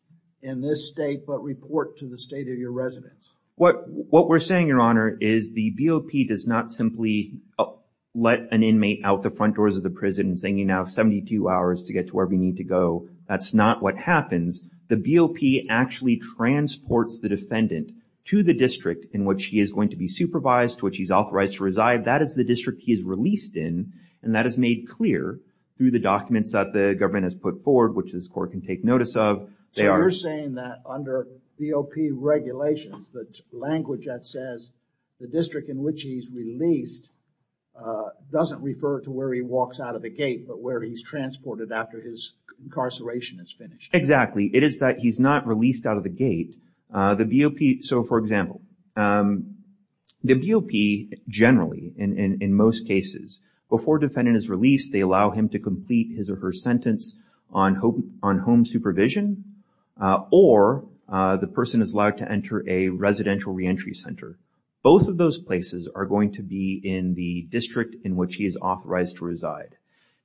in this state but report to the state of your residence? What we're saying, Your Honor, is the BOP does not simply let an inmate out the front doors of the prison and send you now 72 hours to get to wherever you need to go. That's not what happens. The BOP actually transports the defendant to the district in which he is going to be supervised, to which he's authorized to reside. That is the district he is released in and that is made clear through the documents that the government has put forward, which this court can take notice of. So, you're saying that under BOP regulations, the language that says the district in which he's released doesn't refer to where he walks out of the gate but where he's transported after his incarceration is finished? It is that he's not released out of the gate. The BOP... So, for example, the BOP generally, in most cases, before defendant is released, they allow him to complete his or her sentence on home supervision or the person is allowed to enter a residential reentry center. Both of those places are going to be in the district in which he is authorized to reside.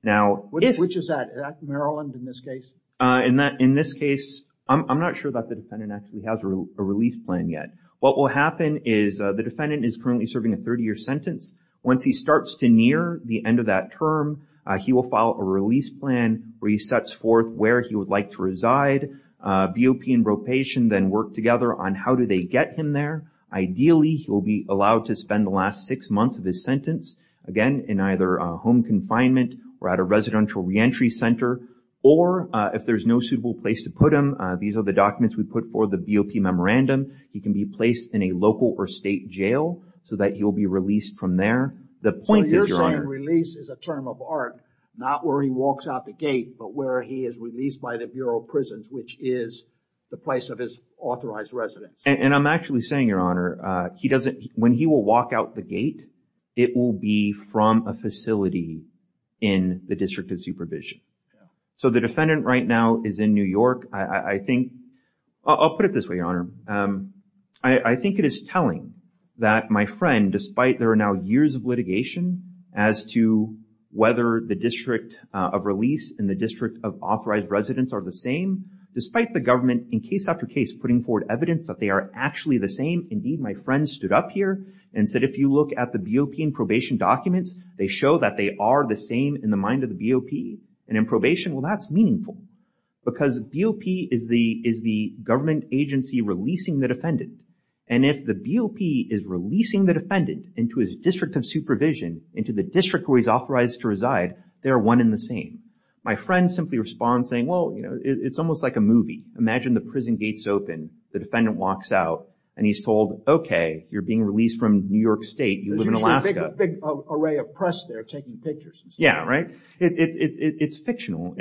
Now, if... Which is that? Is that Maryland in this case? In this case, I'm not sure that the defendant actually has a release plan yet. What will happen is the defendant is currently serving a 30-year sentence. Once he starts to near the end of that term, he will file a release plan where he sets forth where he would like to reside. BOP and Ropation then work together on how do they get him there. Ideally, he will be allowed to spend the last six months of his sentence, again, in either home confinement or at a residential reentry center. Or if there's no suitable place to put him, these are the documents we put for the BOP memorandum, he can be placed in a local or state jail so that he will be released from there. The point is, Your Honor... So you're saying release is a term of art not where he walks out the gate but where he is released by the Bureau of Prisons, which is the place of his authorized residence. And I'm actually saying, Your Honor, he doesn't... When he will walk out the gate, it will be from a facility in the District of Supervision. So the defendant right now is in New York. I think... I'll put it this way, Your Honor. I think it is telling that my friend, despite there are now years of litigation as to whether the District of Release and the District of Authorized Residence are the same, despite the government, in case after case, putting forward evidence that they are actually the same. Indeed, my friend stood up here and said, If you look at the BOP and probation documents, they show that they are the same in the mind of the BOP. And in probation, well, that's meaningful because BOP is the government agency releasing the defendant. And if the BOP is releasing the defendant into his District of Supervision, into the district where he's authorized to reside, they are one and the same. My friend simply responds saying, Well, you know, it's almost like a movie. Imagine the prison gates open, the defendant walks out, and he's told, Okay, you're being released from New York State. You live in Alaska. There's actually a big array of press there taking pictures and stuff. Yeah, right? It's fictional.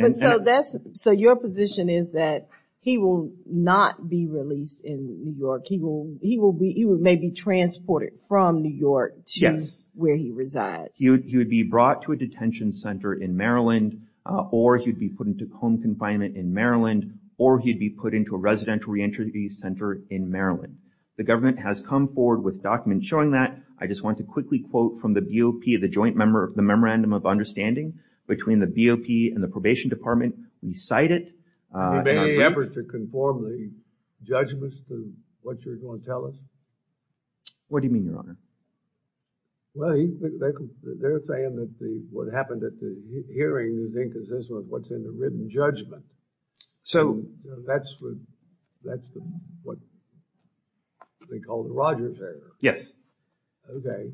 So your position is that he will not be released in New York. He may be transported from New York to where he resides. He would be brought to a detention center in Maryland, or he'd be put into home confinement in Maryland, or he'd be put into a residential re-entry center in Maryland. The government has come forward with documents showing that. I just want to quickly quote from the BOP, the joint memorandum of understanding between the BOP and the Probation Department. We cite it. He may effort to conform the judgments to what you're going to tell us. What do you mean, Your Honor? Well, they're saying that what happened at the hearing is inconsistent with what's in the written judgment. So that's what they call the Rogers error. Yes. Okay.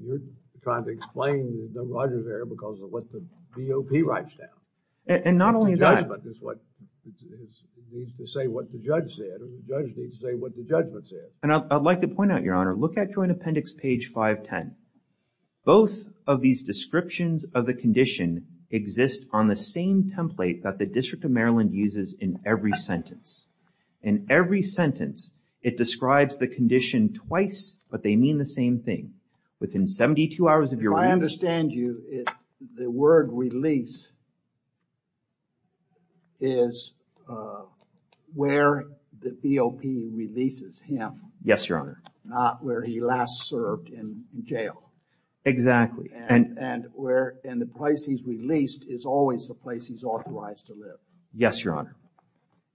You're trying to explain the Rogers error because of what the BOP writes down. And not only that. The judgment is what needs to say what the judge said, and the judge needs to say what the judgment said. And I'd like to point out, Your Honor, look at Joint Appendix page 510. Both of these descriptions of the condition exist on the same template that the District of Maryland uses in every sentence. In every sentence, it describes the condition twice, but they mean the same thing. Within 72 hours of your release... If I understand you, the word release is where the BOP releases him. Yes, Your Honor. Not where he last served in jail. Exactly. And the place he's released is always the place he's authorized to live. Yes, Your Honor.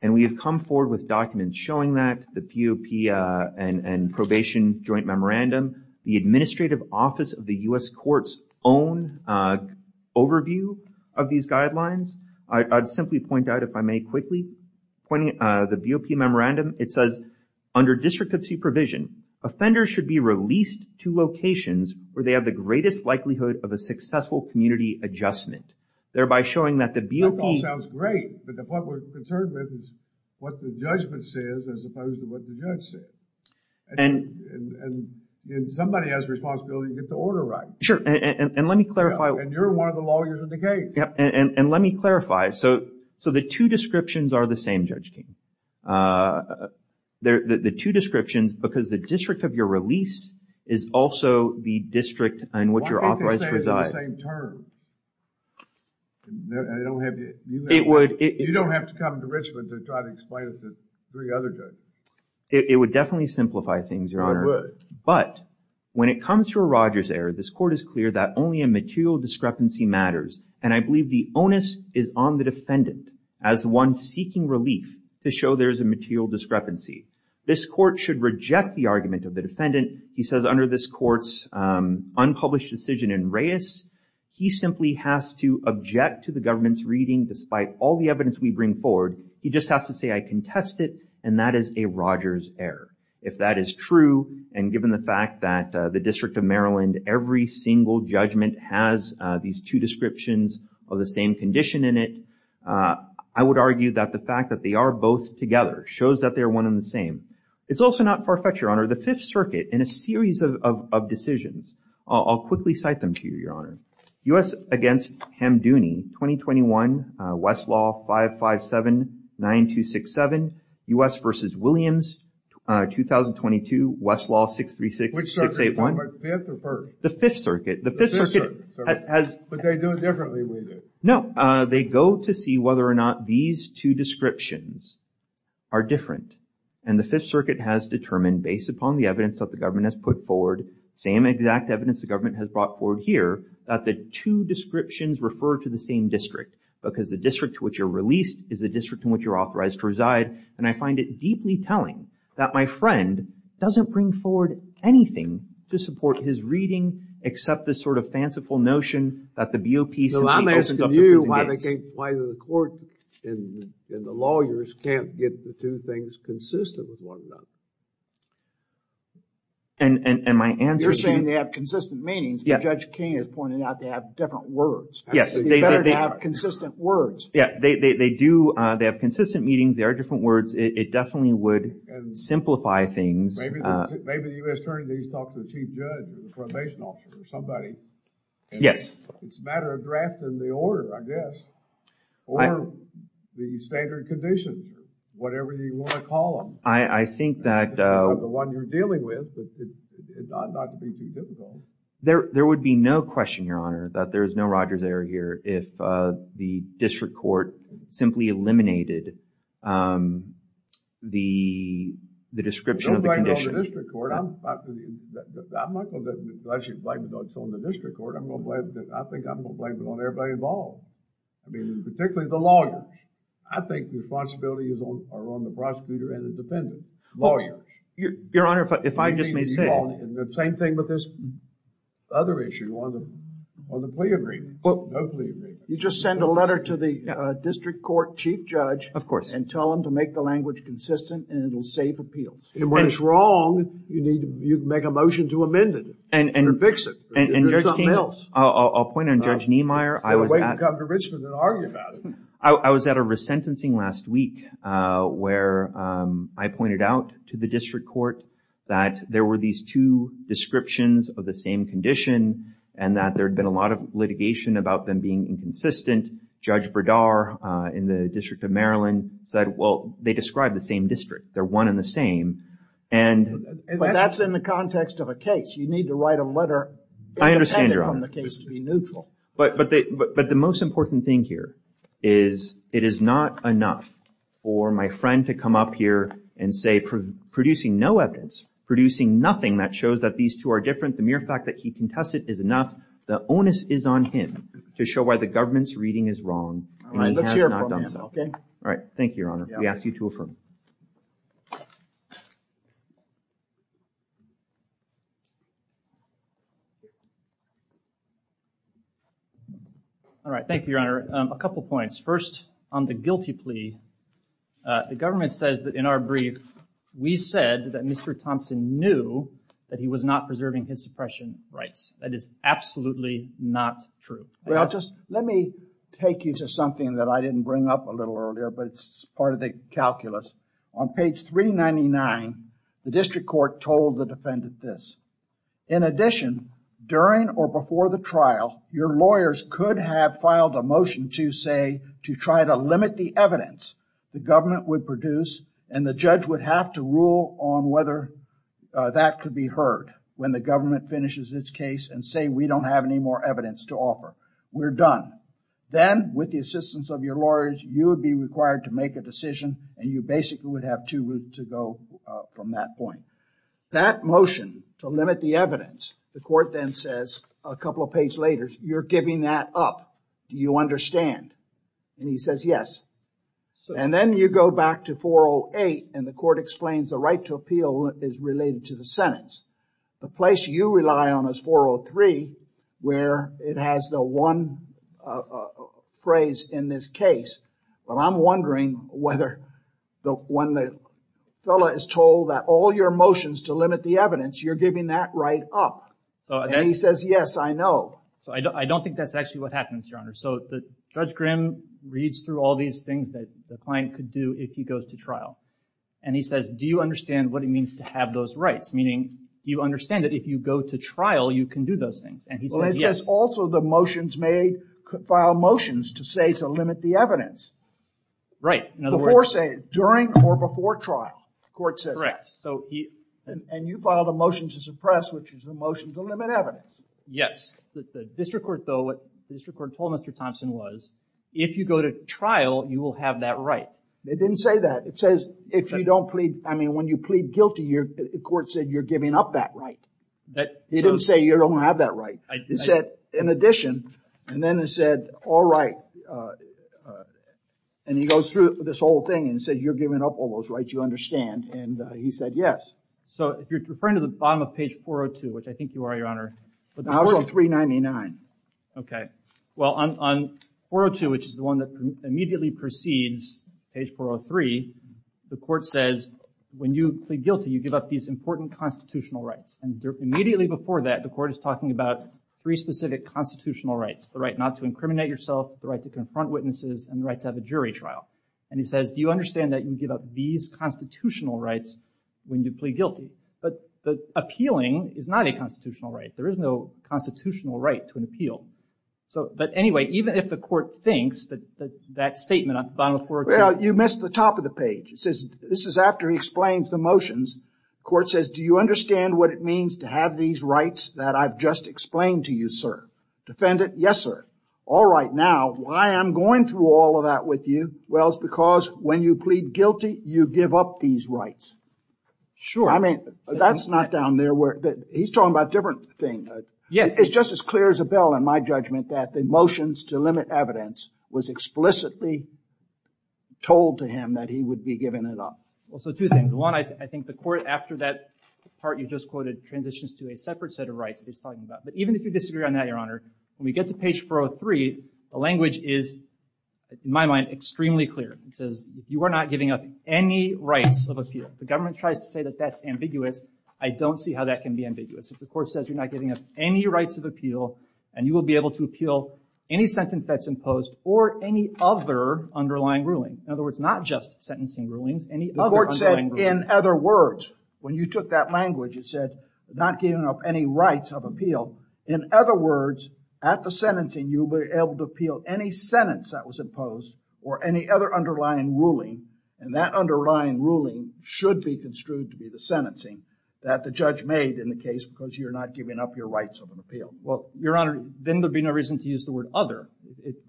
And we have come forward with documents showing that, the BOP and probation joint memorandum, the Administrative Office of the U.S. Courts own overview of these guidelines. I'd simply point out, if I may quickly, the BOP memorandum. It says, under district of supervision, offenders should be released to locations where they have the greatest likelihood of a successful community adjustment. Thereby showing that the BOP... That all sounds great, but the point we're concerned with is what the judgment says as opposed to what the judge says. And somebody has a responsibility to get the order right. Sure, and let me clarify... And you're one of the lawyers in the case. And let me clarify. So the two descriptions are the same, Judge King. The two descriptions, because the district of your release is also the district in which you're authorized to reside. Why can't they say it's the same term? I don't have... It would... You don't have to come to Richmond to try to explain it to three other judges. It would definitely simplify things, Your Honor. It would. But, when it comes to a Rogers error, this court is clear that only a material discrepancy matters. And I believe the onus is on the defendant as the one seeking relief to show there's a material discrepancy. This court should reject the argument of the defendant he says under this court's unpublished decision in Reyes. He simply has to object to the government's reading despite all the evidence we bring forward. He just has to say, I contest it. And that is a Rogers error. If that is true, and given the fact that the District of Maryland, every single judgment has these two descriptions of the same condition in it, I would argue that the fact that they are both together shows that they are one and the same. It's also not perfect, Your Honor. The Fifth Circuit, in a series of decisions, I'll quickly cite them to you, Your Honor. U.S. against Ham Dooney, 2021, Westlaw 557-9267, U.S. versus Williams, 2022, Westlaw 636-681. Which circuit? The Fifth or First? The Fifth Circuit. The Fifth Circuit has... But they do it differently, do they? No. They go to see whether or not these two descriptions are different. And the Fifth Circuit has determined, based upon the evidence that the government has put forward, same exact evidence the government has brought forward here, that the two descriptions refer to the same district. Because the district to which you're released is the district to which you're authorized to reside. And I find it deeply telling that my friend doesn't bring forward anything to support his reading, except this sort of fanciful notion that the BOP... So I'm asking you why the court and the lawyers can't get the two things consistent with one another. And my answer is... You're saying they have consistent meanings, but Judge King has pointed out they have different words. Yes. They better have consistent words. Yeah, they do. They have consistent meanings. They are different words. It definitely would simplify things. Maybe the U.S. Attorney needs to talk to the chief judge or the probation officer or somebody. Yes. It's a matter of drafting the order, I guess. Or the standard conditions. Whatever you want to call them. I think that... The one you're dealing with. It's not going to be too difficult. There would be no question, Your Honor, that there is no Rogers error here if the district court simply eliminated the description of the condition. Don't blame it on the district court. I'm not going to actually blame it on the district court. I think I'm going to blame it on everybody involved. I mean, particularly the lawyers. I think the responsibility is on the prosecutor and the defendant. Your Honor, if I just may say... The same thing with this other issue on the plea agreement. No plea agreement. You just send a letter to the district court chief judge and tell them to make the language consistent and it will save appeals. And when it's wrong, you make a motion to amend it. And fix it. There's something else. I'll point on Judge Niemeyer. We can come to Richmond and argue about it. I was at a resentencing last week where I pointed out to the district court that there were these two descriptions of the same condition and that there had been a lot of litigation about them being inconsistent. Judge Berdar in the District of Maryland said, well, they describe the same district. They're one and the same. But that's in the context of a case. You need to write a letter independent from the case to be neutral. But the most important thing here is it is not enough for my friend to come up here and say producing no evidence, producing nothing that shows that these two are different, the mere fact that he contested is enough. The onus is on him to show why the government's reading is wrong and he has not done so. All right. Thank you, Your Honor. We ask you to affirm. All right. Thank you, Your Honor. A couple points. First, on the guilty plea, the government says that in our brief, we said that Mr. Thompson knew that he was not preserving his suppression rights. That is absolutely not true. Well, just let me take you to something that I didn't bring up a little earlier, but it's part of the calculus. On page 399, the district court told the defendant this. In addition, during or before the trial, your lawyers could have filed a motion to say to try to limit the evidence the government would produce and the judge would have to rule on whether that could be heard when the government finishes its case and say we don't have any more evidence to offer. We're done. Then, with the assistance of your lawyers, you would be required to make a decision and you basically would have two routes to go from that point. That motion to limit the evidence, the court then says a couple of pages later, you're giving that up. Do you understand? And he says yes. And then you go back to 408 and the court explains the right to appeal is related to the sentence. The place you rely on is 403 where it has the one phrase in this case, but I'm wondering whether when the fellow is told that all your motions to limit the evidence, you're giving that right up. And he says yes, I know. So I don't think that's actually what happens, Your Honor. So Judge Grimm reads through all these things that the client could do if he goes to trial and he says do you understand what it means to have those rights, meaning you understand that if you go to trial, you can do those things. And he says yes. Well, it says also the motions made, could file motions to say to limit the evidence. Right. Before say, during or before trial. The court says that. And you filed a motion to suppress, which is a motion to limit evidence. Yes. The district court though, what the district court told Mr. Thompson was if you go to trial, you will have that right. It didn't say that. It says if you don't plead, I mean when you plead guilty, the court said you're giving up that right. It didn't say you don't have that right. It said in addition. And then it said all right. And he goes through this whole thing and said you're giving up all those rights, you understand. And he said yes. So if you're referring to the bottom of page 402, which I think you are, Your Honor. No, it's 399. Okay. Well, on 402, which is the one that immediately precedes page 403, the court says when you plead guilty, you give up these important constitutional rights. And immediately before that, the court is talking about three specific constitutional rights. The right not to incriminate yourself, the right to confront witnesses, and the right to have a jury trial. And he says, do you understand that you give up these constitutional rights when you plead guilty? But appealing is not a constitutional right. There is no constitutional right to an appeal. But anyway, even if the court thinks that that statement on the bottom of 402. Well, you missed the top of the page. This is after he explains the motions. The court says, do you understand what it means to have these rights that I've just explained to you, sir? Defendant, yes, sir. All right. Now, why am I going through all of that with you? Well, it's because when you plead guilty, you give up these rights. I mean, that's not down there. He's talking about a different thing. It's just as clear as a bell in my judgment that the motions to limit evidence was explicitly told to him that he would be giving it up. Well, so two things. One, I think the court, after that part you just quoted, transitions to a separate set of rights that he's talking about. But even if you disagree on that, Your Honor, when we get to page 403, the language is, in my mind, extremely clear. It says, you are not giving up any rights of appeal. The government tries to say that that's ambiguous. I don't see how that can be ambiguous. If the court says you're not giving up any rights of appeal, and you will be able to appeal any sentence that's imposed or any other underlying ruling, in other words, not just sentencing rulings, any other underlying ruling. The court said, in other words. When you took that language, it said, not giving up any rights of appeal. In other words, at the sentencing, you'll be able to appeal any sentence that was imposed or any other underlying ruling. And that underlying ruling should be construed to be the sentencing that the judge made in the case because you're not giving up your rights of an appeal. Well, Your Honor, then there'd be no reason to use the word other.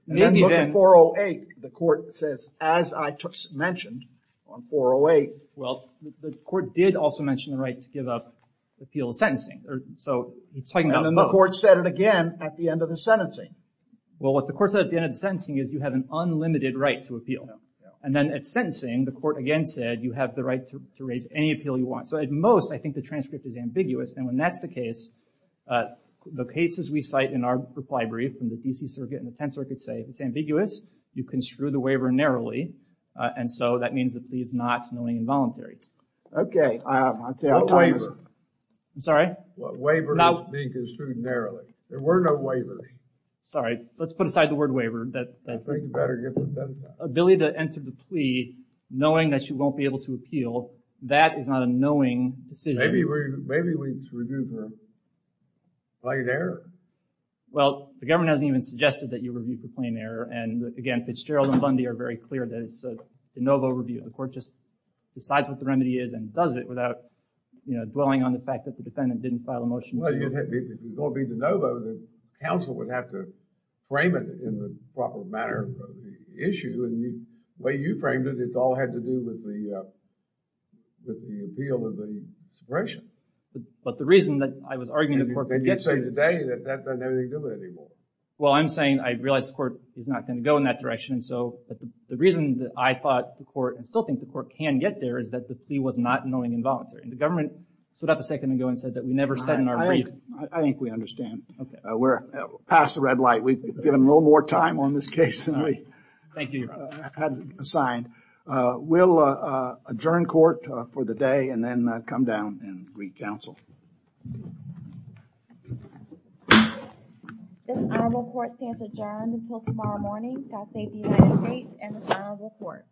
And then look at 408. The court says, as I just mentioned on 408. Well, the court did also mention the right to give up the appeal of sentencing. So it's talking about both. And the court said it again at the end of the sentencing. Well, what the court said at the end of the sentencing is you have an unlimited right to appeal. And then at sentencing, the court again said you have the right to raise any appeal you want. So at most, I think the transcript is ambiguous. And when that's the case, the cases we cite in our reply brief from the D.C. Circuit and the Tenth Circuit say it's ambiguous. You construe the waiver narrowly. And so that means the plea is not knowingly involuntary. Okay. What waiver? I'm sorry? Waiver is being construed narrowly. There were no waivers. Let's put aside the word waiver. I think you better get the sentence out. Ability to enter the plea knowing that you won't be able to appeal, that is not a knowing decision. Maybe we should review for plain error. Well, the government hasn't even suggested that you review for plain error. And again, Fitzgerald and Bundy are very clear that it's a de novo review. The court just decides what the remedy is and does it without dwelling on the fact that the defendant didn't file a motion to... Well, it's going to be de novo. The counsel would have to frame it in the proper manner of the issue. And the way you framed it, it all had to do with the appeal of the suppression. But the reason that I was arguing the court... And you say today that that doesn't have anything to do with it anymore. Well, I'm saying I realize the court is not going to go in that direction. And so the reason that I thought the court and still think the court can get there is that the plea was not knowingly involuntary. And the government stood up a second ago and said that we never said in our review... I think we understand. We're past the red light. We've given a little more time on this case than we had assigned. We'll adjourn court for the day and then come down and greet counsel. This honorable court stands adjourned until tomorrow morning. God save the United States and this honorable court.